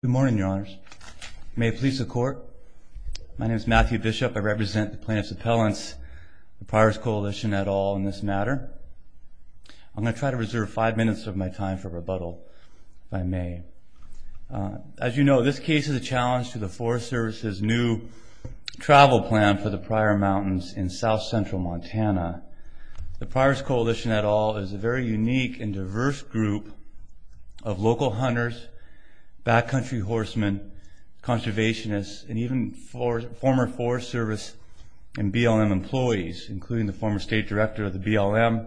Good morning, Your Honors. May it please the Court, my name is Matthew Bishop. I represent the plaintiff's appellants, the Pryors Coalition et al. in this matter. I'm going to try to reserve five minutes of my time for rebuttal by May. As you know, this case is a challenge to the Forest Service's new travel plan for the Pryor Mountains in south-central Montana. The Pryors Coalition et al. is a very unique and diverse group of local hunters, backcountry horsemen, conservationists, and even former Forest Service and BLM employees, including the former state director of the BLM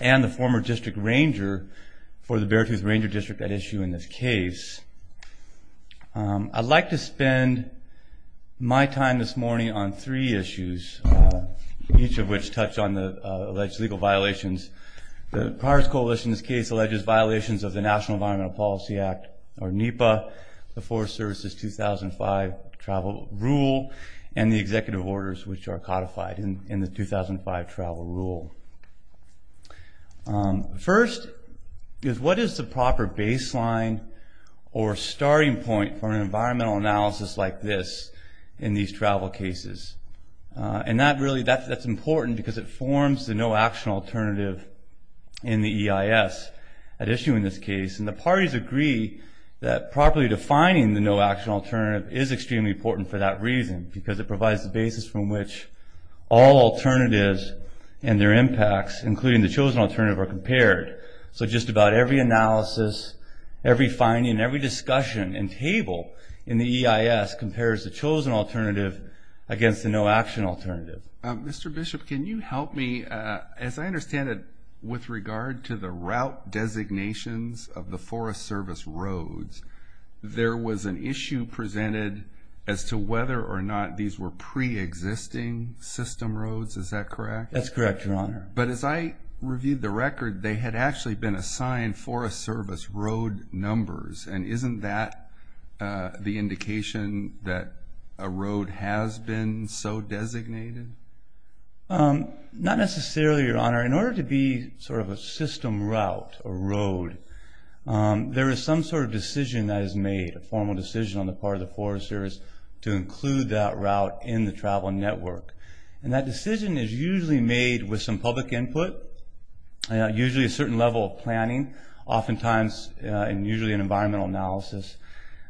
and the former district ranger for the Beartooth Ranger District at issue in this case. I'd like to spend my time this morning on three issues, each of which touch on the alleged legal violations. The Pryors Coalition's case alleges violations of the National Environmental Policy Act, or NEPA, the Forest Service's 2005 travel rule, and the executive orders which are codified in the 2005 travel rule. First, what is the proper baseline or starting point for an environmental analysis like this in these travel cases? That's important because it forms the no-action alternative in the EIS at issue in this case. The parties agree that properly defining the no-action alternative is extremely important for that reason, because it provides the basis from which all alternatives and their impacts, including the chosen alternative, are compared. So just about every analysis, every finding, every discussion and table in the EIS compares the chosen alternative against the no-action alternative. Mr. Bishop, can you help me? As I understand it, with regard to the route designations of the Forest Service roads, there was an issue presented as to whether or not these were pre-existing system roads, is that correct? That's correct, Your Honor. But as I reviewed the record, they had actually been assigned Forest Service road numbers, and isn't that the indication that a road has been so designated? Not necessarily, Your Honor. In order to be sort of a system route or road, there is some sort of decision that is made, a formal decision on the part of the Forest Service to include that route in the travel network. And that decision is usually made with some public input, usually a certain level of planning, oftentimes usually an environmental analysis,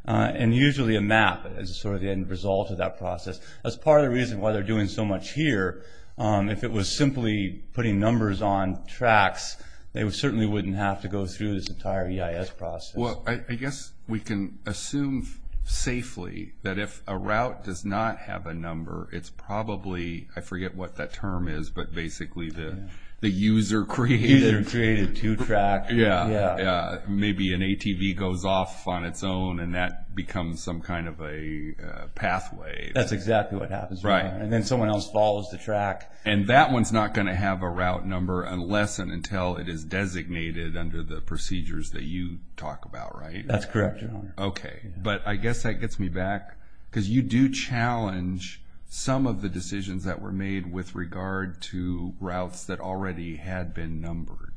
and usually a map as sort of the end result of that process. That's part of the reason why they're doing so much here. If it was simply putting numbers on tracks, they certainly wouldn't have to go through this entire EIS process. Well, I guess we can assume safely that if a route does not have a number, it's probably, I forget what that term is, but basically the user-created two-track. Yeah, maybe an ATV goes off on its own and that becomes some kind of a pathway. That's exactly what happens. Right. And then someone else follows the track. And that one's not going to have a route number unless and until it is designated under the procedures that you talk about, right? That's correct, Your Honor. Okay. But I guess that gets me back, because you do challenge some of the decisions that were made with regard to routes that already had been numbered.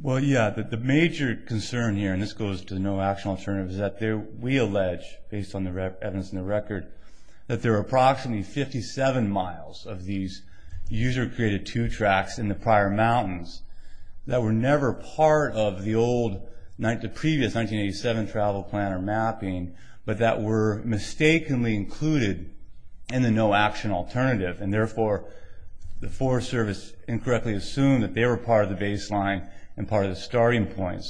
Well, yeah, the major concern here, and this goes to the no-action alternative, is that we allege, based on the evidence in the record, that there are approximately 57 miles of these user-created two-tracks in the prior mountains that were never part of the previous 1987 travel plan or mapping, but that were mistakenly included in the no-action alternative, and therefore the Forest Service incorrectly assumed that they were part of the baseline and part of the starting point.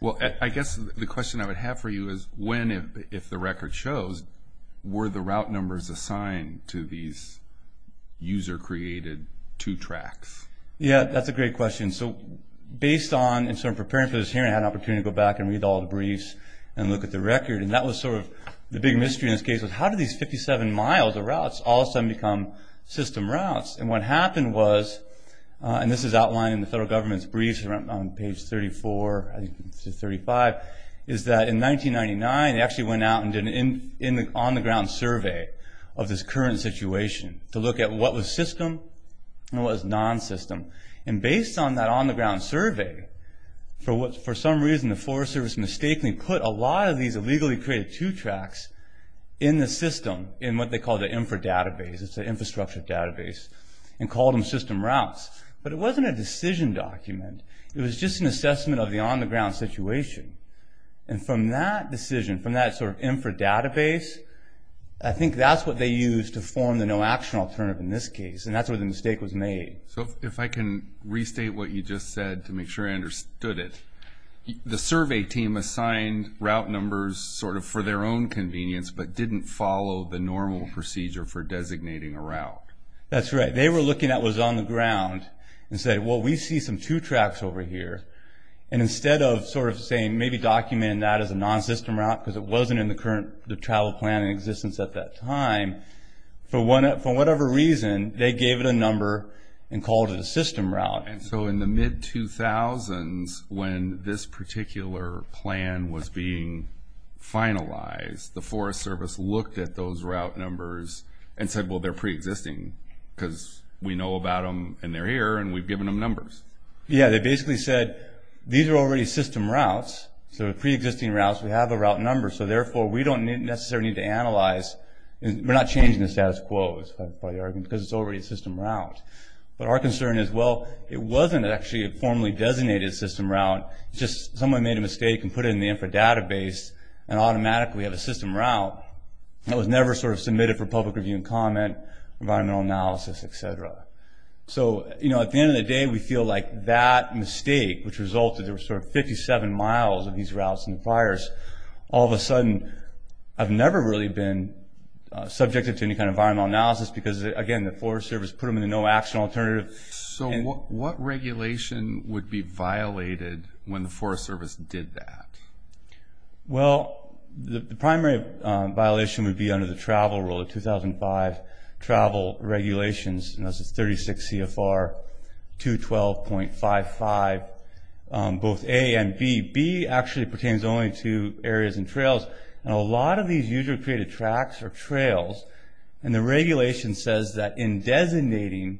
Well, I guess the question I would have for you is when, if the record shows, were the route numbers assigned to these user-created two-tracks? Yeah, that's a great question. So based on, in sort of preparing for this hearing, I had an opportunity to go back and read all the briefs and look at the record, and that was sort of the big mystery in this case was how did these 57 miles of routes all of a sudden become system routes? And what happened was, and this is outlined in the federal government's briefs on page 34 to 35, is that in 1999 they actually went out and did an on-the-ground survey of this current situation to look at what was system and what was non-system. And based on that on-the-ground survey, for some reason the Forest Service mistakenly put a lot of these illegally-created two-tracks in the system, in what they call the infra-database, it's an infrastructure database, and called them system routes. But it wasn't a decision document. It was just an assessment of the on-the-ground situation. And from that decision, from that sort of infra-database, I think that's what they used to form the no-action alternative in this case, and that's where the mistake was made. So if I can restate what you just said to make sure I understood it. The survey team assigned route numbers sort of for their own convenience, but didn't follow the normal procedure for designating a route. That's right. They were looking at what was on the ground and said, well, we see some two-tracks over here. And instead of sort of saying maybe documenting that as a non-system route because it wasn't in the current travel plan in existence at that time, for whatever reason they gave it a number and called it a system route. And so in the mid-2000s, when this particular plan was being finalized, the Forest Service looked at those route numbers and said, well, they're pre-existing because we know about them and they're here and we've given them numbers. Yeah, they basically said, these are already system routes, so they're pre-existing routes, we have the route numbers, so therefore we don't necessarily need to analyze. We're not changing the status quo, because it's already a system route. But our concern is, well, it wasn't actually a formally designated system route, just someone made a mistake and put it in the infra database and automatically we have a system route that was never sort of submitted for public review and comment, environmental analysis, et cetera. So, you know, at the end of the day, we feel like that mistake, which resulted there were sort of 57 miles of these routes in the fires, all of a sudden I've never really been subjected to any kind of environmental analysis because, again, the Forest Service put them in the no-action alternative. So what regulation would be violated when the Forest Service did that? Well, the primary violation would be under the travel rule of 2005 travel regulations, and that's 36 CFR 212.55, both A and B. B actually pertains only to areas and trails, and a lot of these usually created tracks or trails, and the regulation says that in designating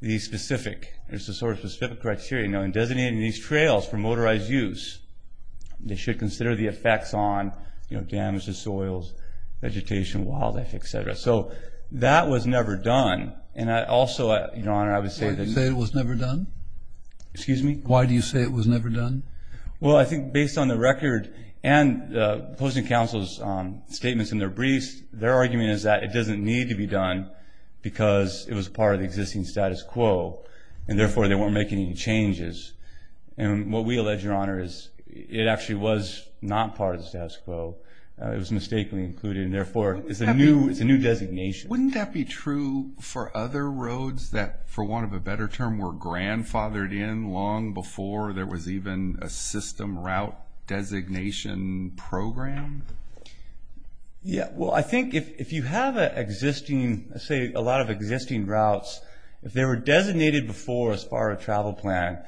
these specific, there's a sort of specific criteria, you know, in designating these trails for motorized use, they should consider the effects on, you know, damage to soils, vegetation, wildlife, et cetera. So that was never done, and I also, Your Honor, I would say that. You say it was never done? Excuse me? Why do you say it was never done? Well, I think based on the record and opposing counsel's statements in their briefs, their argument is that it doesn't need to be done because it was part of the existing status quo, and therefore they weren't making any changes. And what we allege, Your Honor, is it actually was not part of the status quo. It was mistakenly included, and therefore it's a new designation. Wouldn't that be true for other roads that, for want of a better term, were grandfathered in long before there was even a system route designation program? Yeah, well, I think if you have an existing, let's say a lot of existing routes, if they were designated before as part of a travel plan,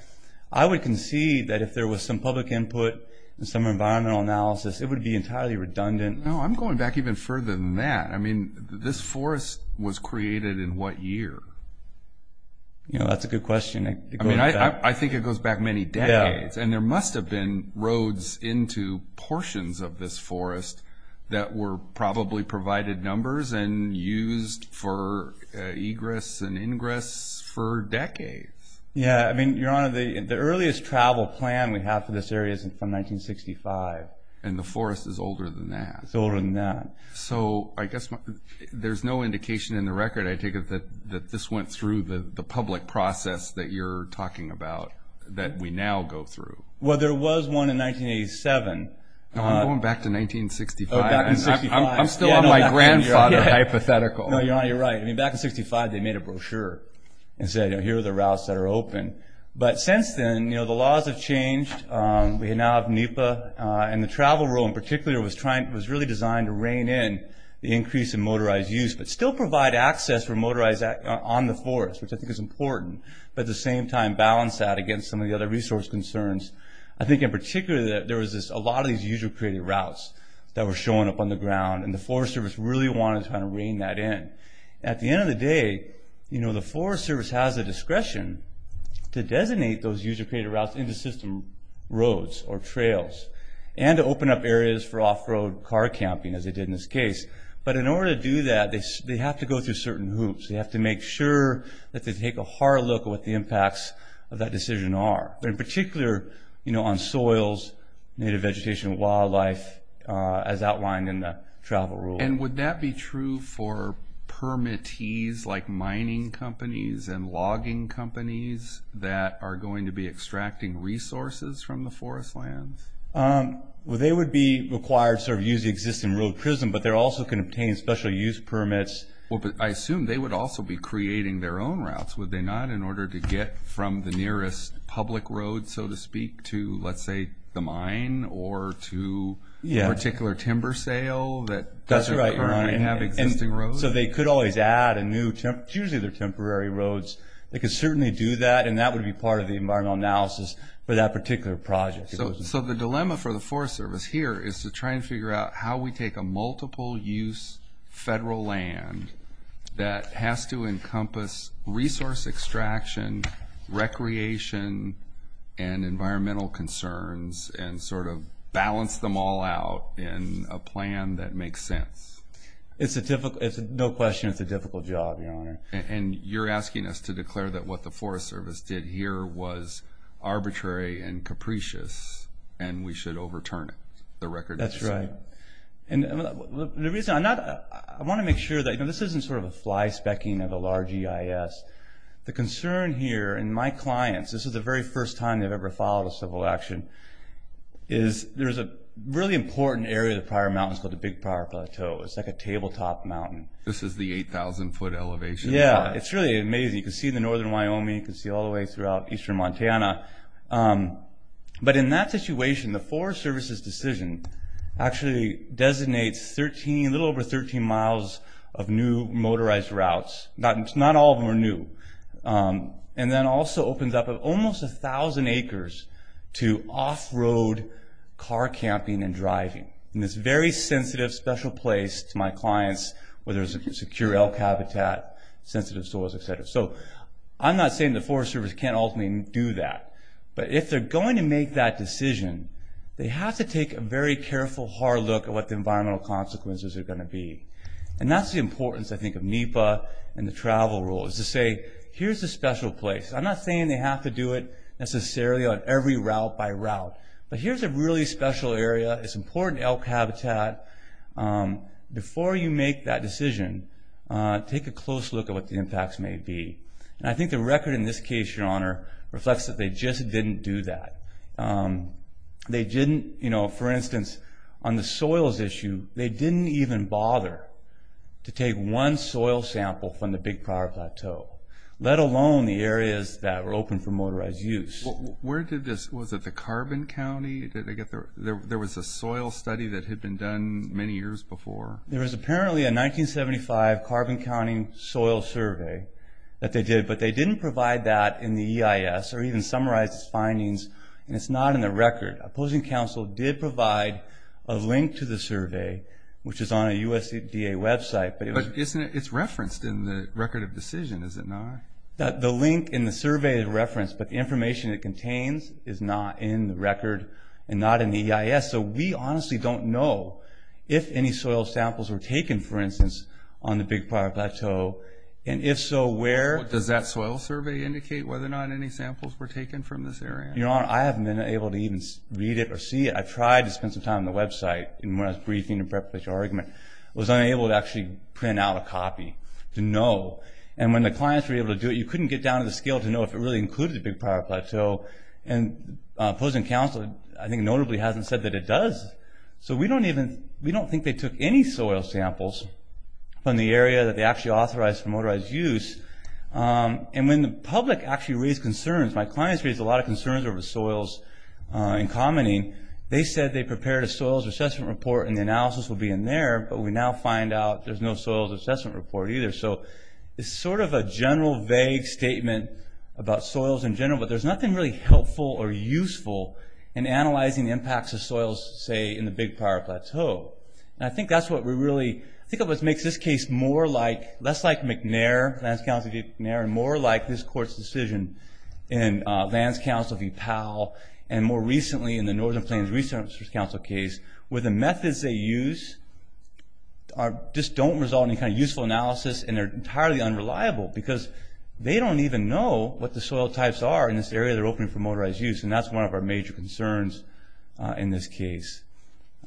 I would concede that if there was some public input and some environmental analysis, it would be entirely redundant. No, I'm going back even further than that. I mean, this forest was created in what year? You know, that's a good question. I mean, I think it goes back many decades, and there must have been roads into portions of this forest that were probably provided numbers and used for egress and ingress for decades. Yeah, I mean, Your Honor, the earliest travel plan we have for this area is from 1965. And the forest is older than that. It's older than that. So I guess there's no indication in the record, I take it, that this went through the public process that you're talking about that we now go through. Well, there was one in 1987. I'm going back to 1965. I'm still on my grandfather hypothetical. No, Your Honor, you're right. I mean, back in 1965 they made a brochure and said, here are the routes that are open. But since then, you know, the laws have changed. We now have NEPA. And the travel rule in particular was really designed to rein in the increase in motorized use but still provide access for motorized on the forest, which I think is important, but at the same time balance that against some of the other resource concerns. I think in particular there was a lot of these user-created routes that were showing up on the ground, and the Forest Service really wanted to kind of rein that in. At the end of the day, you know, the Forest Service has the discretion to designate those user-created routes into system roads or trails and to open up areas for off-road car camping, as they did in this case. But in order to do that, they have to go through certain hoops. They have to make sure that they take a hard look at what the impacts of that decision are. In particular, you know, on soils, native vegetation, wildlife, as outlined in the travel rule. And would that be true for permittees like mining companies and logging companies that are going to be extracting resources from the forest lands? Well, they would be required to sort of use the existing road prism, but they're also going to obtain special use permits. Well, but I assume they would also be creating their own routes, would they not, in order to get from the nearest public road, so to speak, to, let's say, the mine, or to a particular timber sale that doesn't currently have existing roads? So they could always add a new temporary roads. They could certainly do that, and that would be part of the environmental analysis for that particular project. So the dilemma for the Forest Service here is to try and figure out how we take a multiple-use federal land that has to encompass resource extraction, recreation, and environmental concerns, and sort of balance them all out in a plan that makes sense. It's a difficult—no question, it's a difficult job, Your Honor. And you're asking us to declare that what the Forest Service did here was arbitrary and capricious, and we should overturn it, the record that's set? That's right. The reason I'm not—I want to make sure that, you know, this isn't sort of a fly-specking of a large EIS. The concern here, and my clients, this is the very first time they've ever followed a civil action, is there's a really important area of the Pryor Mountains called the Big Pryor Plateau. It's like a tabletop mountain. This is the 8,000-foot elevation. Yeah, it's really amazing. You can see the northern Wyoming. You can see all the way throughout eastern Montana. But in that situation, the Forest Service's decision actually designates 13, a little over 13 miles of new motorized routes. Not all of them are new. And then also opens up almost 1,000 acres to off-road car camping and driving, in this very sensitive, special place to my clients, where there's secure elk habitat, sensitive soils, et cetera. So I'm not saying the Forest Service can't ultimately do that. But if they're going to make that decision, they have to take a very careful, hard look at what the environmental consequences are going to be. And that's the importance, I think, of NEPA and the travel rule, is to say, here's a special place. I'm not saying they have to do it necessarily on every route by route. But here's a really special area. It's important elk habitat. Before you make that decision, take a close look at what the impacts may be. And I think the record in this case, Your Honor, reflects that they just didn't do that. They didn't, you know, for instance, on the soils issue, they didn't even bother to take one soil sample from the Big Pryor Plateau, let alone the areas that were open for motorized use. Was it the Carbon County? There was a soil study that had been done many years before. There was apparently a 1975 Carbon County soil survey that they did. But they didn't provide that in the EIS or even summarize its findings. And it's not in the record. Opposing counsel did provide a link to the survey, which is on a USDA website. But it's referenced in the record of decision, is it not? The link in the survey is referenced, but the information it contains is not in the record and not in the EIS. So we honestly don't know if any soil samples were taken, for instance, on the Big Pryor Plateau. And if so, where? Does that soil survey indicate whether or not any samples were taken from this area? Your Honor, I haven't been able to even read it or see it. I tried to spend some time on the website when I was briefing to prepare for the argument. I was unable to actually print out a copy to know. And when the clients were able to do it, you couldn't get down to the scale to know if it really included the Big Pryor Plateau. And opposing counsel, I think, notably hasn't said that it does. So we don't think they took any soil samples from the area that they actually authorized for motorized use. And when the public actually raised concerns, my clients raised a lot of concerns over soils and commenting, they said they prepared a soils assessment report and the analysis will be in there. But we now find out there's no soils assessment report either. So it's sort of a general vague statement about soils in general, but there's nothing really helpful or useful in analyzing the impacts of soils, say, in the Big Pryor Plateau. And I think that's what we really... I think that what makes this case more like... less like McNair, Lands Council v. McNair, and more like this Court's decision in Lands Council v. Powell, and more recently in the Northern Plains Research Council case, where the methods they use just don't result in any kind of useful analysis and they're entirely unreliable because they don't even know what the soil types are in this area they're opening for motorized use. And that's one of our major concerns in this case.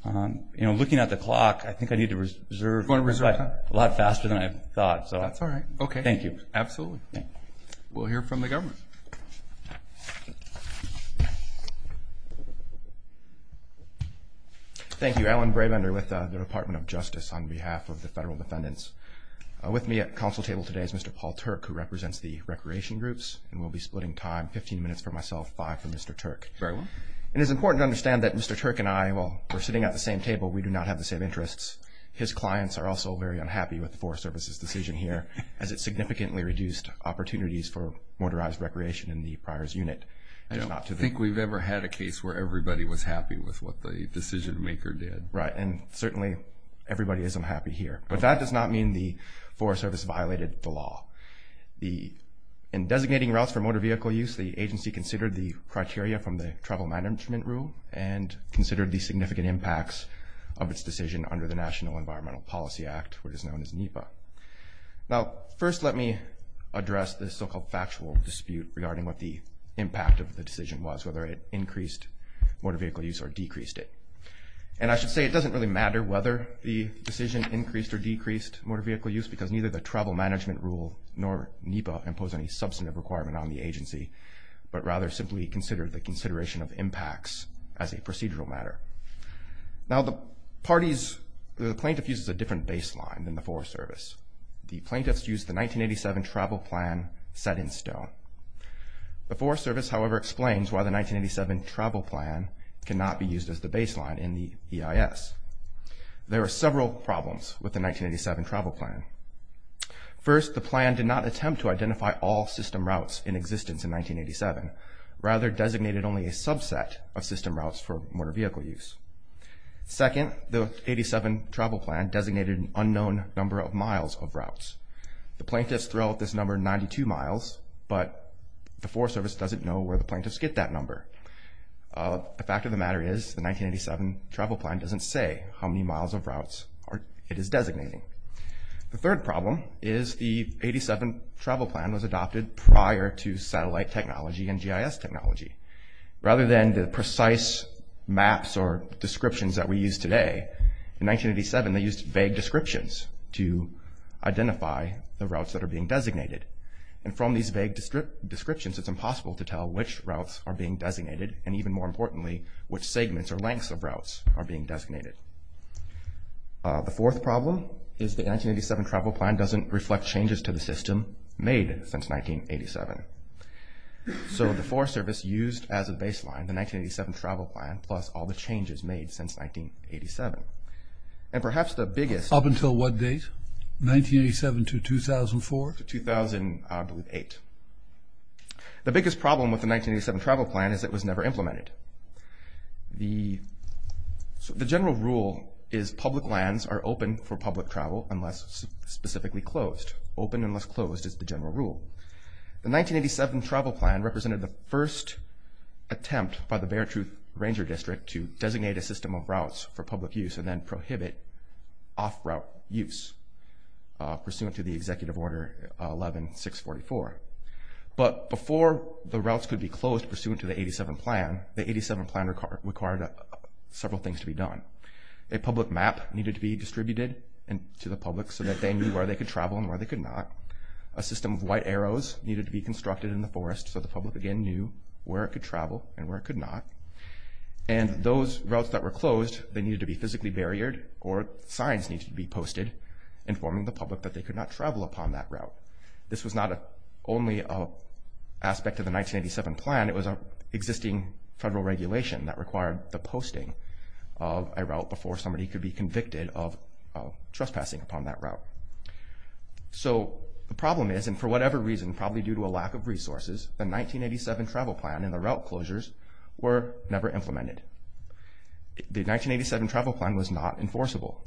You know, looking at the clock, I think I need to reserve a lot faster than I thought. That's all right. Thank you. Absolutely. We'll hear from the government. Thank you. Alan Bravender with the Department of Justice on behalf of the federal defendants. With me at the council table today is Mr. Paul Turk, who represents the recreation groups, and we'll be splitting time 15 minutes for myself, 5 for Mr. Turk. Very well. It is important to understand that Mr. Turk and I, while we're sitting at the same table, we do not have the same interests. His clients are also very unhappy with the Forest Service's decision here, as it significantly reduced opportunities for motorized recreation in the Pryor's unit. I don't think we've ever had a case where everybody was happy with what the decision maker did. Right. And certainly everybody isn't happy here. But that does not mean the Forest Service violated the law. In designating routes for motor vehicle use, the agency considered the criteria from the Travel Management Rule and considered the significant impacts of its decision under the National Environmental Policy Act, which is known as NEPA. Now, first let me address this so-called factual dispute regarding what the impact of the decision was, whether it increased motor vehicle use or decreased it. And I should say it doesn't really matter whether the decision increased or decreased motor vehicle use because neither the Travel Management Rule nor NEPA impose any substantive requirement on the agency, but rather simply consider the consideration of impacts as a procedural matter. Now, the parties, the plaintiff uses a different baseline than the Forest Service. The plaintiffs used the 1987 Travel Plan set in stone. The Forest Service, however, explains why the 1987 Travel Plan cannot be used as the baseline in the EIS. There are several problems with the 1987 Travel Plan. First, the plan did not attempt to identify all system routes in existence in 1987, rather designated only a subset of system routes for motor vehicle use. Second, the 87 Travel Plan designated an unknown number of miles of routes. The plaintiffs throw out this number, 92 miles, but the Forest Service doesn't know where the plaintiffs get that number. The fact of the matter is the 1987 Travel Plan doesn't say how many miles of routes it is designating. The third problem is the 87 Travel Plan was adopted prior to satellite technology and GIS technology. Rather than the precise maps or descriptions that we use today, in 1987 they used vague descriptions to identify the routes that are being designated. And from these vague descriptions, it's impossible to tell which routes are being designated and even more importantly, which segments or lengths of routes are being designated. The fourth problem is the 1987 Travel Plan doesn't reflect changes to the system made since 1987. So the Forest Service used as a baseline the 1987 Travel Plan plus all the changes made since 1987. And perhaps the biggest... Up until what date? 1987 to 2004? To 2008. The biggest problem with the 1987 Travel Plan is it was never implemented. The general rule is public lands are open for public travel unless specifically closed. Open unless closed is the general rule. The 1987 Travel Plan represented the first attempt by the Beartruth Ranger District to designate a system of routes for public use and then prohibit off-route use, pursuant to the Executive Order 11-644. But before the routes could be closed pursuant to the 87 Plan, the 87 Plan required several things to be done. A public map needed to be distributed to the public so that they knew where they could travel and where they could not. A system of white arrows needed to be constructed in the forest so the public again knew where it could travel and where it could not. And those routes that were closed, they needed to be physically barriered or signs needed to be posted informing the public that they could not travel upon that route. This was not only an aspect of the 1987 Plan, it was an existing federal regulation that required the posting of a route before somebody could be convicted of trespassing upon that route. So the problem is, and for whatever reason, probably due to a lack of resources, the 1987 Travel Plan and the route closures were never implemented. The 1987 Travel Plan was not enforceable.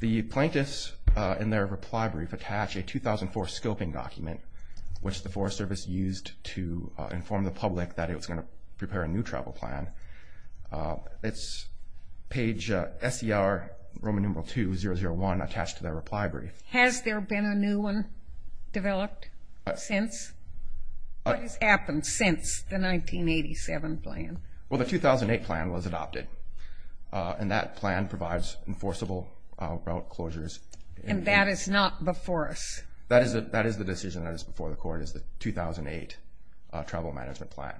The plaintiffs in their reply brief attach a 2004 scoping document, which the Forest Service used to inform the public that it was going to prepare a new travel plan. It's page SER Roman numeral 2001 attached to their reply brief. Has there been a new one developed since? What has happened since the 1987 Plan? Well, the 2008 Plan was adopted, and that plan provides enforceable route closures. And that is not before us? That is the decision that is before the Court, is the 2008 Travel Management Plan.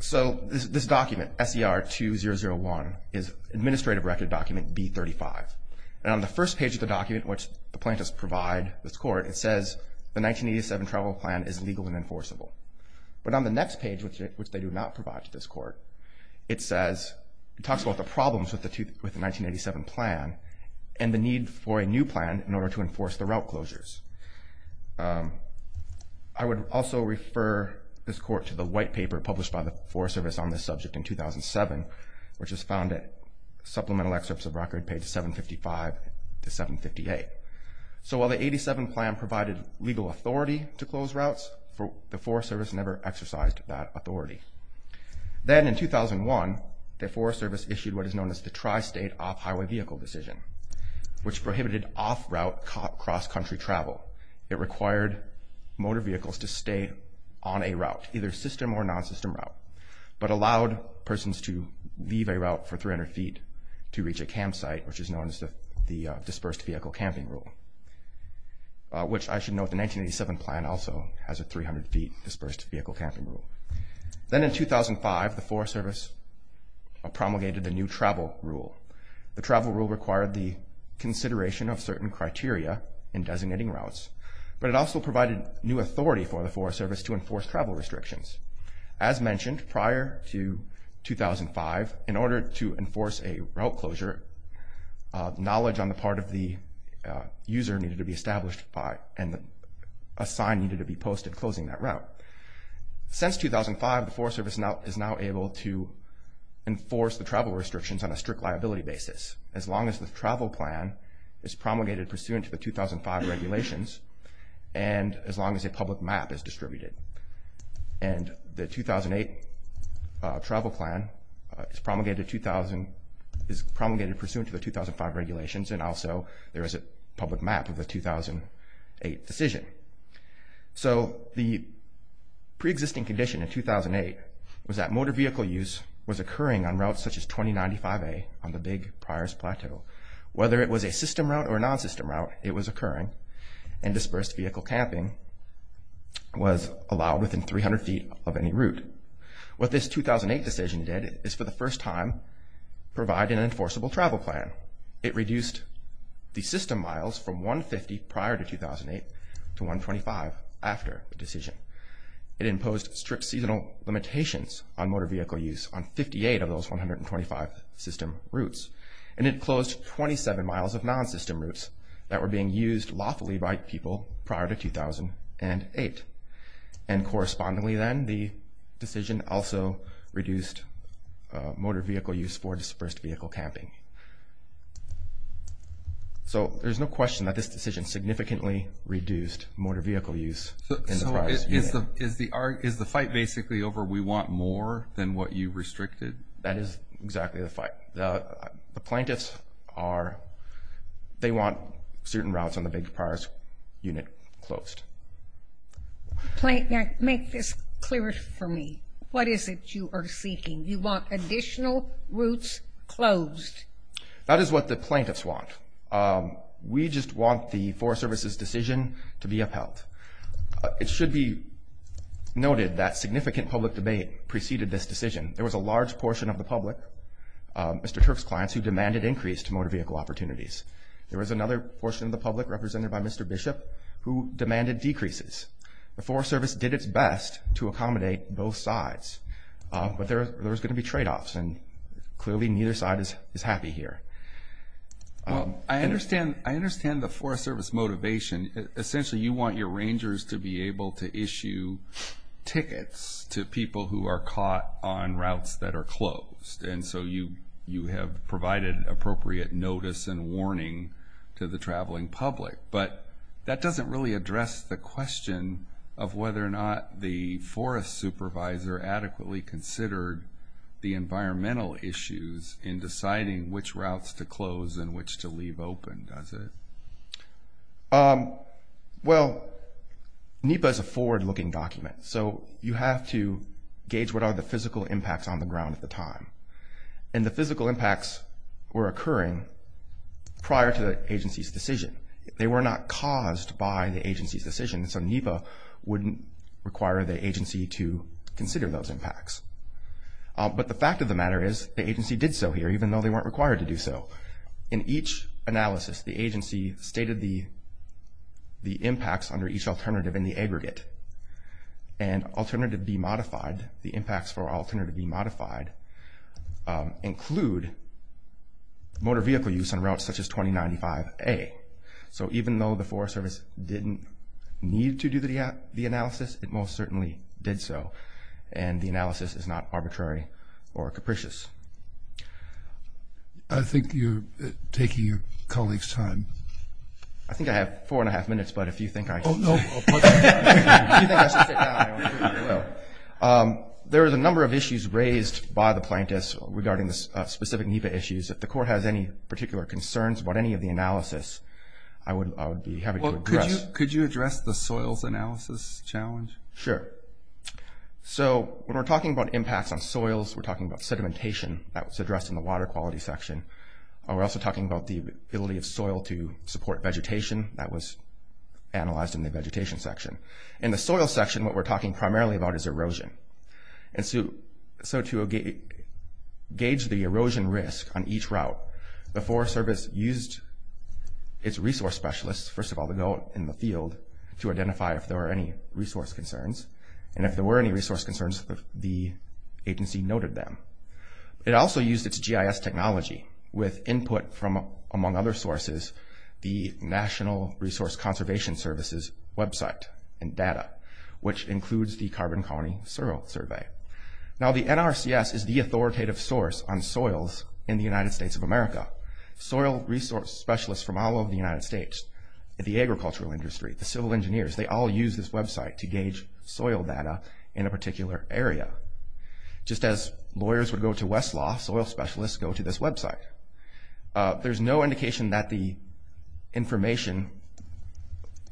So this document, SER 2001, is administrative record document B35. And on the first page of the document, which the plaintiffs provide this Court, it says the 1987 Travel Plan is legal and enforceable. But on the next page, which they do not provide to this Court, it says, it talks about the problems with the 1987 Plan and the need for a new plan in order to enforce the route closures. I would also refer this Court to the white paper published by the Forest Service on this subject in 2007, which is found at Supplemental Excerpts of Record, pages 755 to 758. So while the 87 Plan provided legal authority to close routes, the Forest Service never exercised that authority. Then in 2001, the Forest Service issued what is known as the Tri-State Off-Highway Vehicle Decision, which prohibited off-route cross-country travel. It required motor vehicles to stay on a route, either system or non-system route, but allowed persons to leave a route for 300 feet to reach a campsite, which is known as the Dispersed Vehicle Camping Rule, which I should note the 1987 Plan also has a 300-feet Dispersed Vehicle Camping Rule. Then in 2005, the Forest Service promulgated the new Travel Rule. The Travel Rule required the consideration of certain criteria in designating routes, but it also provided new authority for the Forest Service to enforce travel restrictions. As mentioned, prior to 2005, in order to enforce a route closure, knowledge on the part of the user needed to be established and a sign needed to be posted closing that route. Since 2005, the Forest Service is now able to enforce the travel restrictions on a strict liability basis, as long as the travel plan is promulgated pursuant to the 2005 regulations and as long as a public map is distributed. And the 2008 travel plan is promulgated pursuant to the 2005 regulations, and also there is a public map of the 2008 decision. So the pre-existing condition in 2008 was that motor vehicle use was occurring on routes such as 2095A on the Big Priors Plateau. Whether it was a system route or a non-system route, it was occurring, and dispersed vehicle camping was allowed within 300 feet of any route. What this 2008 decision did is for the first time provide an enforceable travel plan. It reduced the system miles from 150 prior to 2008 to 125 after the decision. It imposed strict seasonal limitations on motor vehicle use on 58 of those 125 system routes, and it closed 27 miles of non-system routes that were being used lawfully by people prior to 2008. And correspondingly then, the decision also reduced motor vehicle use for dispersed vehicle camping. So there's no question that this decision significantly reduced motor vehicle use in the prior years. So is the fight basically over we want more than what you've restricted? That is exactly the fight. The plaintiffs are, they want certain routes on the Big Priors Unit closed. Make this clearer for me. What is it you are seeking? You want additional routes closed? That is what the plaintiffs want. We just want the Forest Service's decision to be upheld. It should be noted that significant public debate preceded this decision. There was a large portion of the public, Mr. Turk's clients, who demanded increased motor vehicle opportunities. There was another portion of the public, represented by Mr. Bishop, who demanded decreases. The Forest Service did its best to accommodate both sides, but there was going to be tradeoffs, and clearly neither side is happy here. I understand the Forest Service motivation. Essentially you want your rangers to be able to issue tickets to people who are caught on routes that are closed, and so you have provided appropriate notice and warning to the traveling public. But that doesn't really address the question of whether or not the forest supervisor adequately considered the environmental issues in deciding which routes to close and which to leave open, does it? Well, NEPA is a forward-looking document, so you have to gauge what are the physical impacts on the ground at the time. And the physical impacts were occurring prior to the agency's decision. They were not caused by the agency's decision, so NEPA wouldn't require the agency to consider those impacts. But the fact of the matter is the agency did so here, even though they weren't required to do so. In each analysis, the agency stated the impacts under each alternative in the aggregate. And Alternative B Modified, the impacts for Alternative B Modified, include motor vehicle use on routes such as 2095A. So even though the Forest Service didn't need to do the analysis, it most certainly did so, and the analysis is not arbitrary or capricious. I think you're taking your colleague's time. I think I have four and a half minutes, but if you think I should sit down, I will. There is a number of issues raised by the plaintiffs regarding the specific NEPA issues. If the Court has any particular concerns about any of the analysis, I would be happy to address. Could you address the soils analysis challenge? Sure. So when we're talking about impacts on soils, we're talking about sedimentation. That was addressed in the Water Quality section. We're also talking about the ability of soil to support vegetation. That was analyzed in the Vegetation section. In the Soil section, what we're talking primarily about is erosion. And so to gauge the erosion risk on each route, the Forest Service used its resource specialists, first of all, to go in the field to identify if there were any resource concerns. And if there were any resource concerns, the agency noted them. It also used its GIS technology with input from, among other sources, the National Resource Conservation Service's website and data, which includes the Carbon Colony Soil Survey. Now the NRCS is the authoritative source on soils in the United States of America. Soil resource specialists from all over the United States, the agricultural industry, the civil engineers, they all use this website to gauge soil data in a particular area. Just as lawyers would go to Westlaw, soil specialists go to this website. There's no indication that the information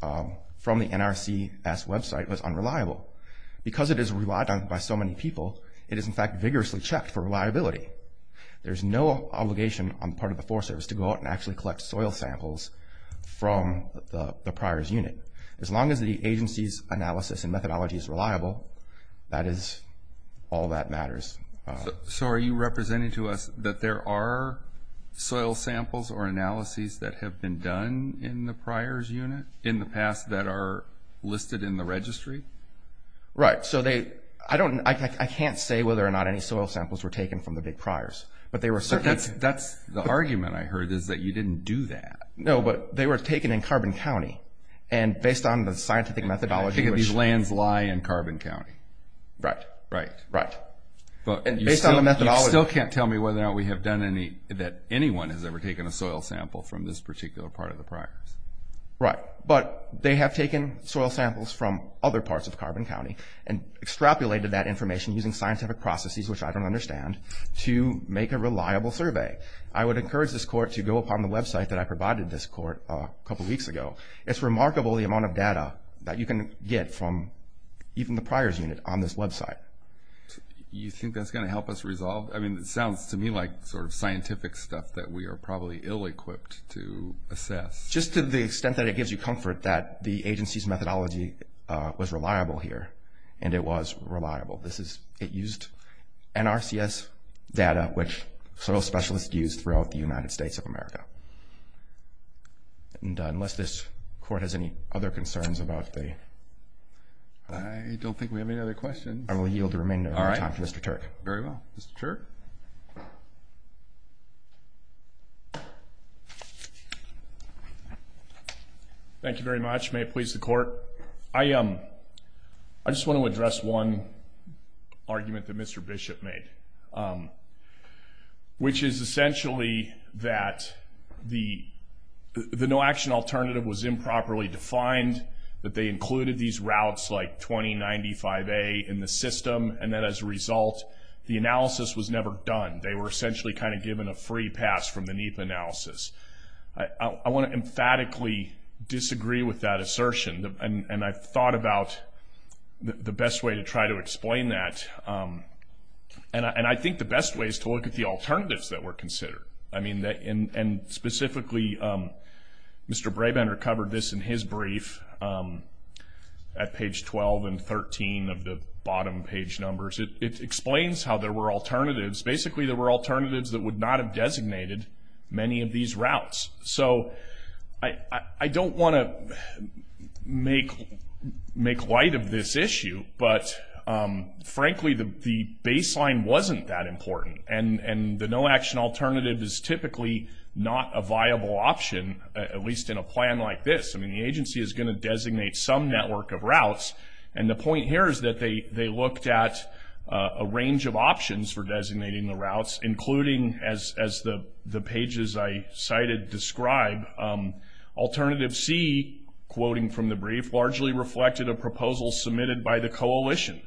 from the NRCS website was unreliable. Because it is relied on by so many people, it is in fact vigorously checked for reliability. There's no obligation on the part of the Forest Service to go out and actually collect soil samples from the priors unit. As long as the agency's analysis and methodology is reliable, that is all that matters. So are you representing to us that there are soil samples or analyses that have been done in the priors unit in the past that are listed in the registry? Right. So I can't say whether or not any soil samples were taken from the big priors. That's the argument I heard, is that you didn't do that. No, but they were taken in Carbon County. And based on the scientific methodology... Right. Right. And based on the methodology... You still can't tell me whether or not we have done any, that anyone has ever taken a soil sample from this particular part of the priors. Right. But they have taken soil samples from other parts of Carbon County and extrapolated that information using scientific processes, which I don't understand, to make a reliable survey. I would encourage this court to go upon the website that I provided this court a couple weeks ago. It's remarkable the amount of data that you can get from even the priors unit on this website. You think that's going to help us resolve? I mean, it sounds to me like sort of scientific stuff that we are probably ill-equipped to assess. Just to the extent that it gives you comfort that the agency's methodology was reliable here, and it was reliable. It used NRCS data, which soil specialists use throughout the United States of America. And unless this court has any other concerns about the... I don't think we have any other questions. I will yield the remainder of my time to Mr. Turk. All right. Very well. Mr. Turk? Thank you very much. May it please the court. I just want to address one argument that Mr. Bishop made, which is essentially that the no-action alternative was improperly defined, that they included these routes like 2095A in the system, and that as a result, the analysis was never done. They were essentially kind of given a free pass from the NEPA analysis. I want to emphatically disagree with that assertion, and I've thought about the best way to try to explain that. And I think the best way is to look at the alternatives that were considered. And specifically, Mr. Brabender covered this in his brief at page 12 and 13 of the bottom page numbers. It explains how there were alternatives. Basically, there were alternatives that would not have designated many of these routes. So I don't want to make light of this issue, but frankly, the baseline wasn't that important. And the no-action alternative is typically not a viable option, at least in a plan like this. I mean, the agency is going to designate some network of routes, and the point here is that they looked at a range of options for designating the routes, including, as the pages I cited describe, alternative C, quoting from the brief, largely reflected a proposal submitted by the coalition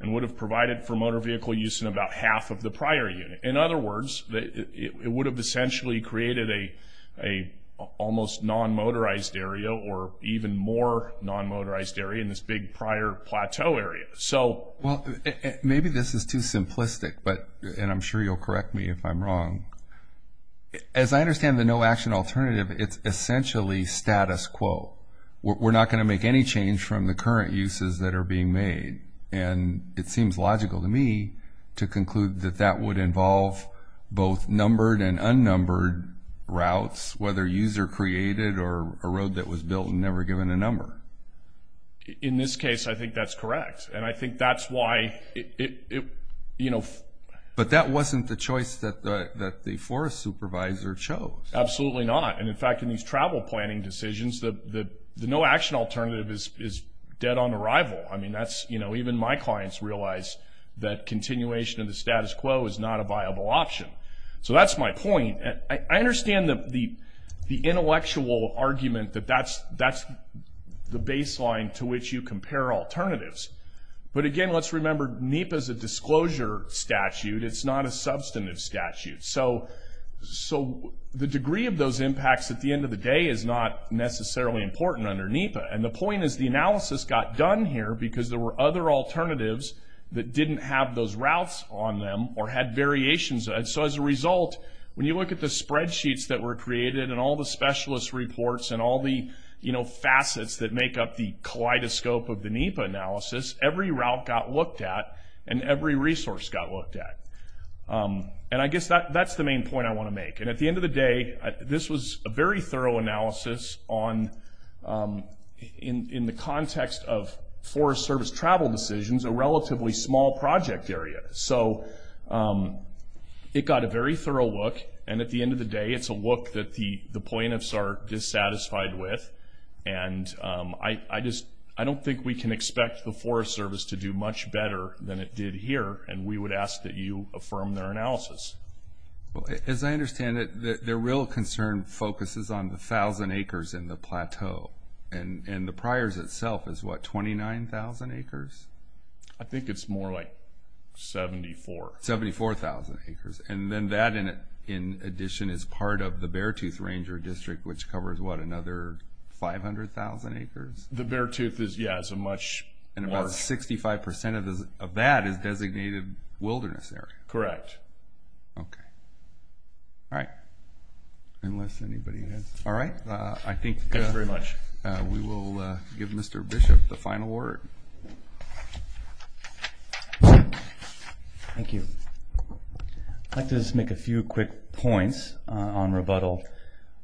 and would have provided for motor vehicle use in about half of the prior unit. In other words, it would have essentially created an almost non-motorized area or even more non-motorized area in this big prior plateau area. Well, maybe this is too simplistic, and I'm sure you'll correct me if I'm wrong. As I understand the no-action alternative, it's essentially status quo. We're not going to make any change from the current uses that are being made. And it seems logical to me to conclude that that would involve both numbered and unnumbered routes, whether user-created or a road that was built and never given a number. In this case, I think that's correct, and I think that's why it, you know. But that wasn't the choice that the forest supervisor chose. Absolutely not. And, in fact, in these travel planning decisions, the no-action alternative is dead on arrival. I mean, that's, you know, even my clients realize that continuation of the status quo is not a viable option. So that's my point. I understand the intellectual argument that that's the baseline to which you compare alternatives. But, again, let's remember NEPA is a disclosure statute. It's not a substantive statute. So the degree of those impacts at the end of the day is not necessarily important under NEPA. And the point is the analysis got done here because there were other alternatives that didn't have those routes on them or had variations. And so, as a result, when you look at the spreadsheets that were created and all the specialist reports and all the, you know, facets that make up the kaleidoscope of the NEPA analysis, every route got looked at and every resource got looked at. And I guess that's the main point I want to make. And at the end of the day, this was a very thorough analysis on, in the context of Forest Service travel decisions, a relatively small project area. So it got a very thorough look, and at the end of the day, it's a look that the plaintiffs are dissatisfied with. And I just don't think we can expect the Forest Service to do much better than it did here, and we would ask that you affirm their analysis. Well, as I understand it, their real concern focuses on the 1,000 acres in the plateau, and the priors itself is, what, 29,000 acres? I think it's more like 74. 74,000 acres. And then that, in addition, is part of the Beartooth Ranger District, which covers, what, another 500,000 acres? The Beartooth is, yeah, is a much more. And about 65% of that is designated wilderness area. Correct. Okay. All right. Unless anybody has. All right, I think we will give Mr. Bishop the final word. Thank you. I'd like to just make a few quick points on rebuttal.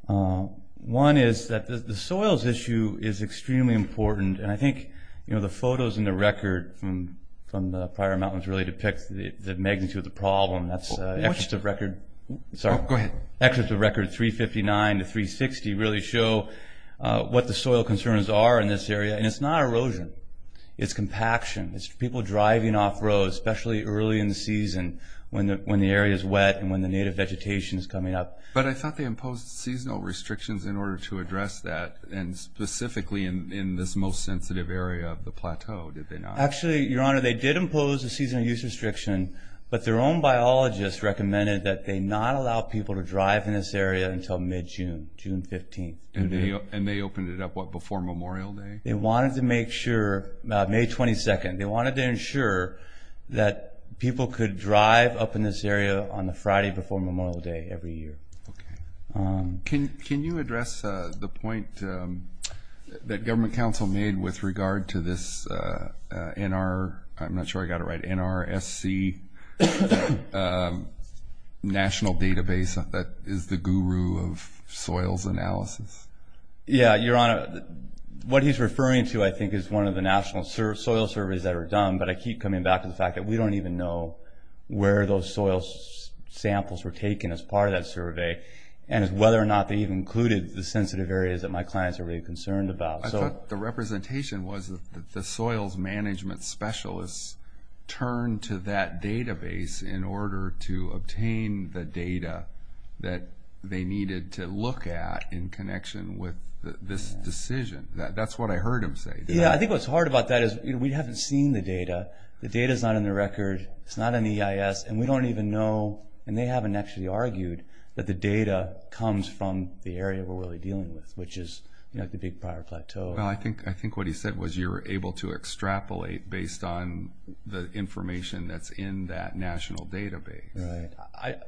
One is that the soils issue is extremely important, and I think, you know, the photos in the record from the prior mountains really depicts the magnitude of the problem. That's an excerpt of record. Oh, go ahead. Excerpt of record 359 to 360 really show what the soil concerns are in this area, and it's not erosion. It's compaction. It's people driving off roads, especially early in the season when the area is wet and when the native vegetation is coming up. But I thought they imposed seasonal restrictions in order to address that, and specifically in this most sensitive area of the plateau, did they not? Actually, Your Honor, they did impose a seasonal use restriction, but their own biologists recommended that they not allow people to drive in this area until mid-June, June 15th. And they opened it up, what, before Memorial Day? They wanted to make sure, May 22nd, they wanted to ensure that people could drive up in this area on the Friday before Memorial Day every year. Okay. Can you address the point that government counsel made with regard to this NR, I'm not sure I got it right, NRSC national database that is the guru of soils analysis? Yeah, Your Honor, what he's referring to, I think, is one of the national soil surveys that were done, but I keep coming back to the fact that we don't even know where those soil samples were taken as part of that survey, and whether or not they even included the sensitive areas that my clients are really concerned about. I thought the representation was that the soils management specialists turned to that database in order to obtain the data that they needed to look at in connection with this decision. That's what I heard him say. Yeah, I think what's hard about that is we haven't seen the data. The data's not on the record. It's not in EIS, and we don't even know, and they haven't actually argued, that the data comes from the area we're really dealing with, which is the big prior plateau. Well, I think what he said was you were able to extrapolate based on the information that's in that national database. Right.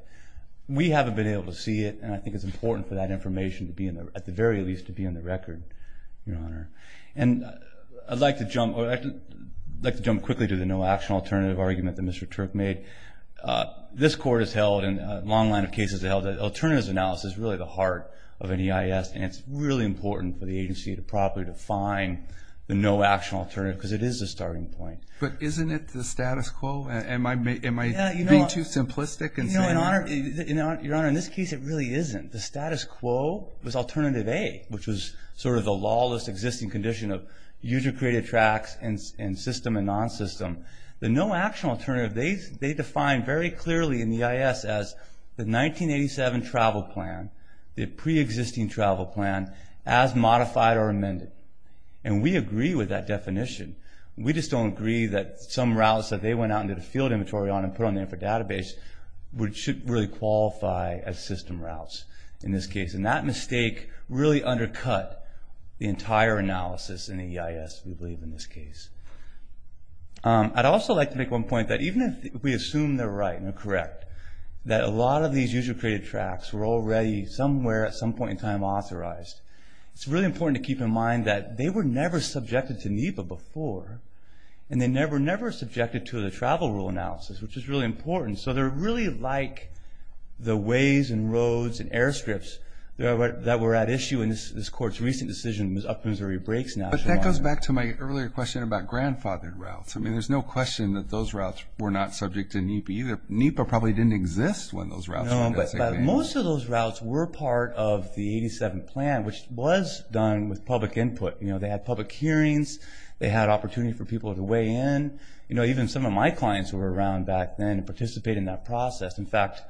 We haven't been able to see it, and I think it's important for that information at the very least to be on the record, Your Honor. I'd like to jump quickly to the no-action alternative argument that Mr. Turk made. This Court has held, and a long line of cases have held, that alternatives analysis is really the heart of an EIS, and it's really important for the agency to properly define the no-action alternative because it is a starting point. But isn't it the status quo? Am I being too simplistic in saying that? Your Honor, in this case it really isn't. The status quo was alternative A, which was sort of the lawless existing condition of user-created tracks and system and non-system. The no-action alternative, they define very clearly in the EIS as the 1987 travel plan, the pre-existing travel plan, as modified or amended. And we agree with that definition. We just don't agree that some routes that they went out and did a field inventory on and put on there for database should really qualify as system routes in this case. And that mistake really undercut the entire analysis in the EIS, we believe, in this case. I'd also like to make one point that even if we assume they're right and they're correct, that a lot of these user-created tracks were already somewhere at some point in time authorized. It's really important to keep in mind that they were never subjected to NEPA before, and they were never subjected to the travel rule analysis, which is really important. So they're really like the ways and roads and airstrips that were at issue in this court's recent decision up Missouri Breaks National Harbor. But that goes back to my earlier question about grandfathered routes. I mean, there's no question that those routes were not subject to NEPA either. NEPA probably didn't exist when those routes were designated. No, but most of those routes were part of the 87 plan, which was done with public input. They had public hearings. They had opportunity for people to weigh in. You know, even some of my clients were around back then and participated in that process. In fact,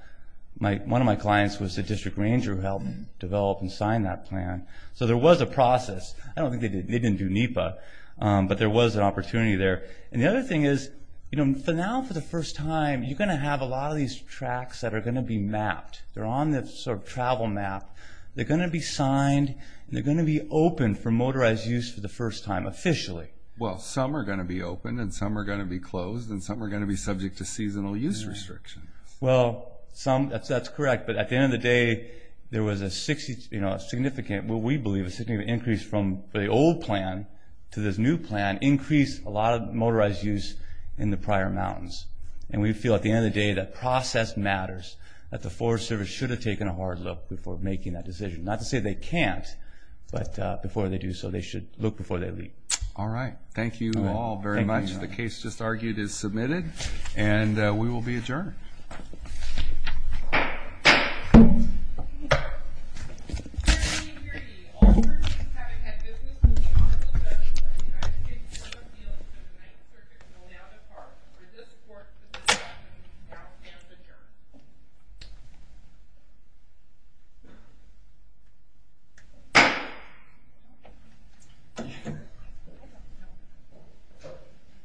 one of my clients was a district ranger who helped develop and sign that plan. So there was a process. I don't think they didn't do NEPA, but there was an opportunity there. And the other thing is, you know, for now, for the first time, you're going to have a lot of these tracks that are going to be mapped. They're on the sort of travel map. They're going to be signed, and they're going to be open for motorized use for the first time officially. Well, some are going to be open, and some are going to be closed, and some are going to be subject to seasonal use restrictions. Well, that's correct, but at the end of the day, there was a significant, what we believe, a significant increase from the old plan to this new plan, increased a lot of motorized use in the prior mountains. And we feel at the end of the day that process matters, that the Forest Service should have taken a hard look before making that decision. Not to say they can't, but before they do so, they should look before they leave. All right. Thank you all very much. The case just argued is submitted, and we will be adjourned. Thank you.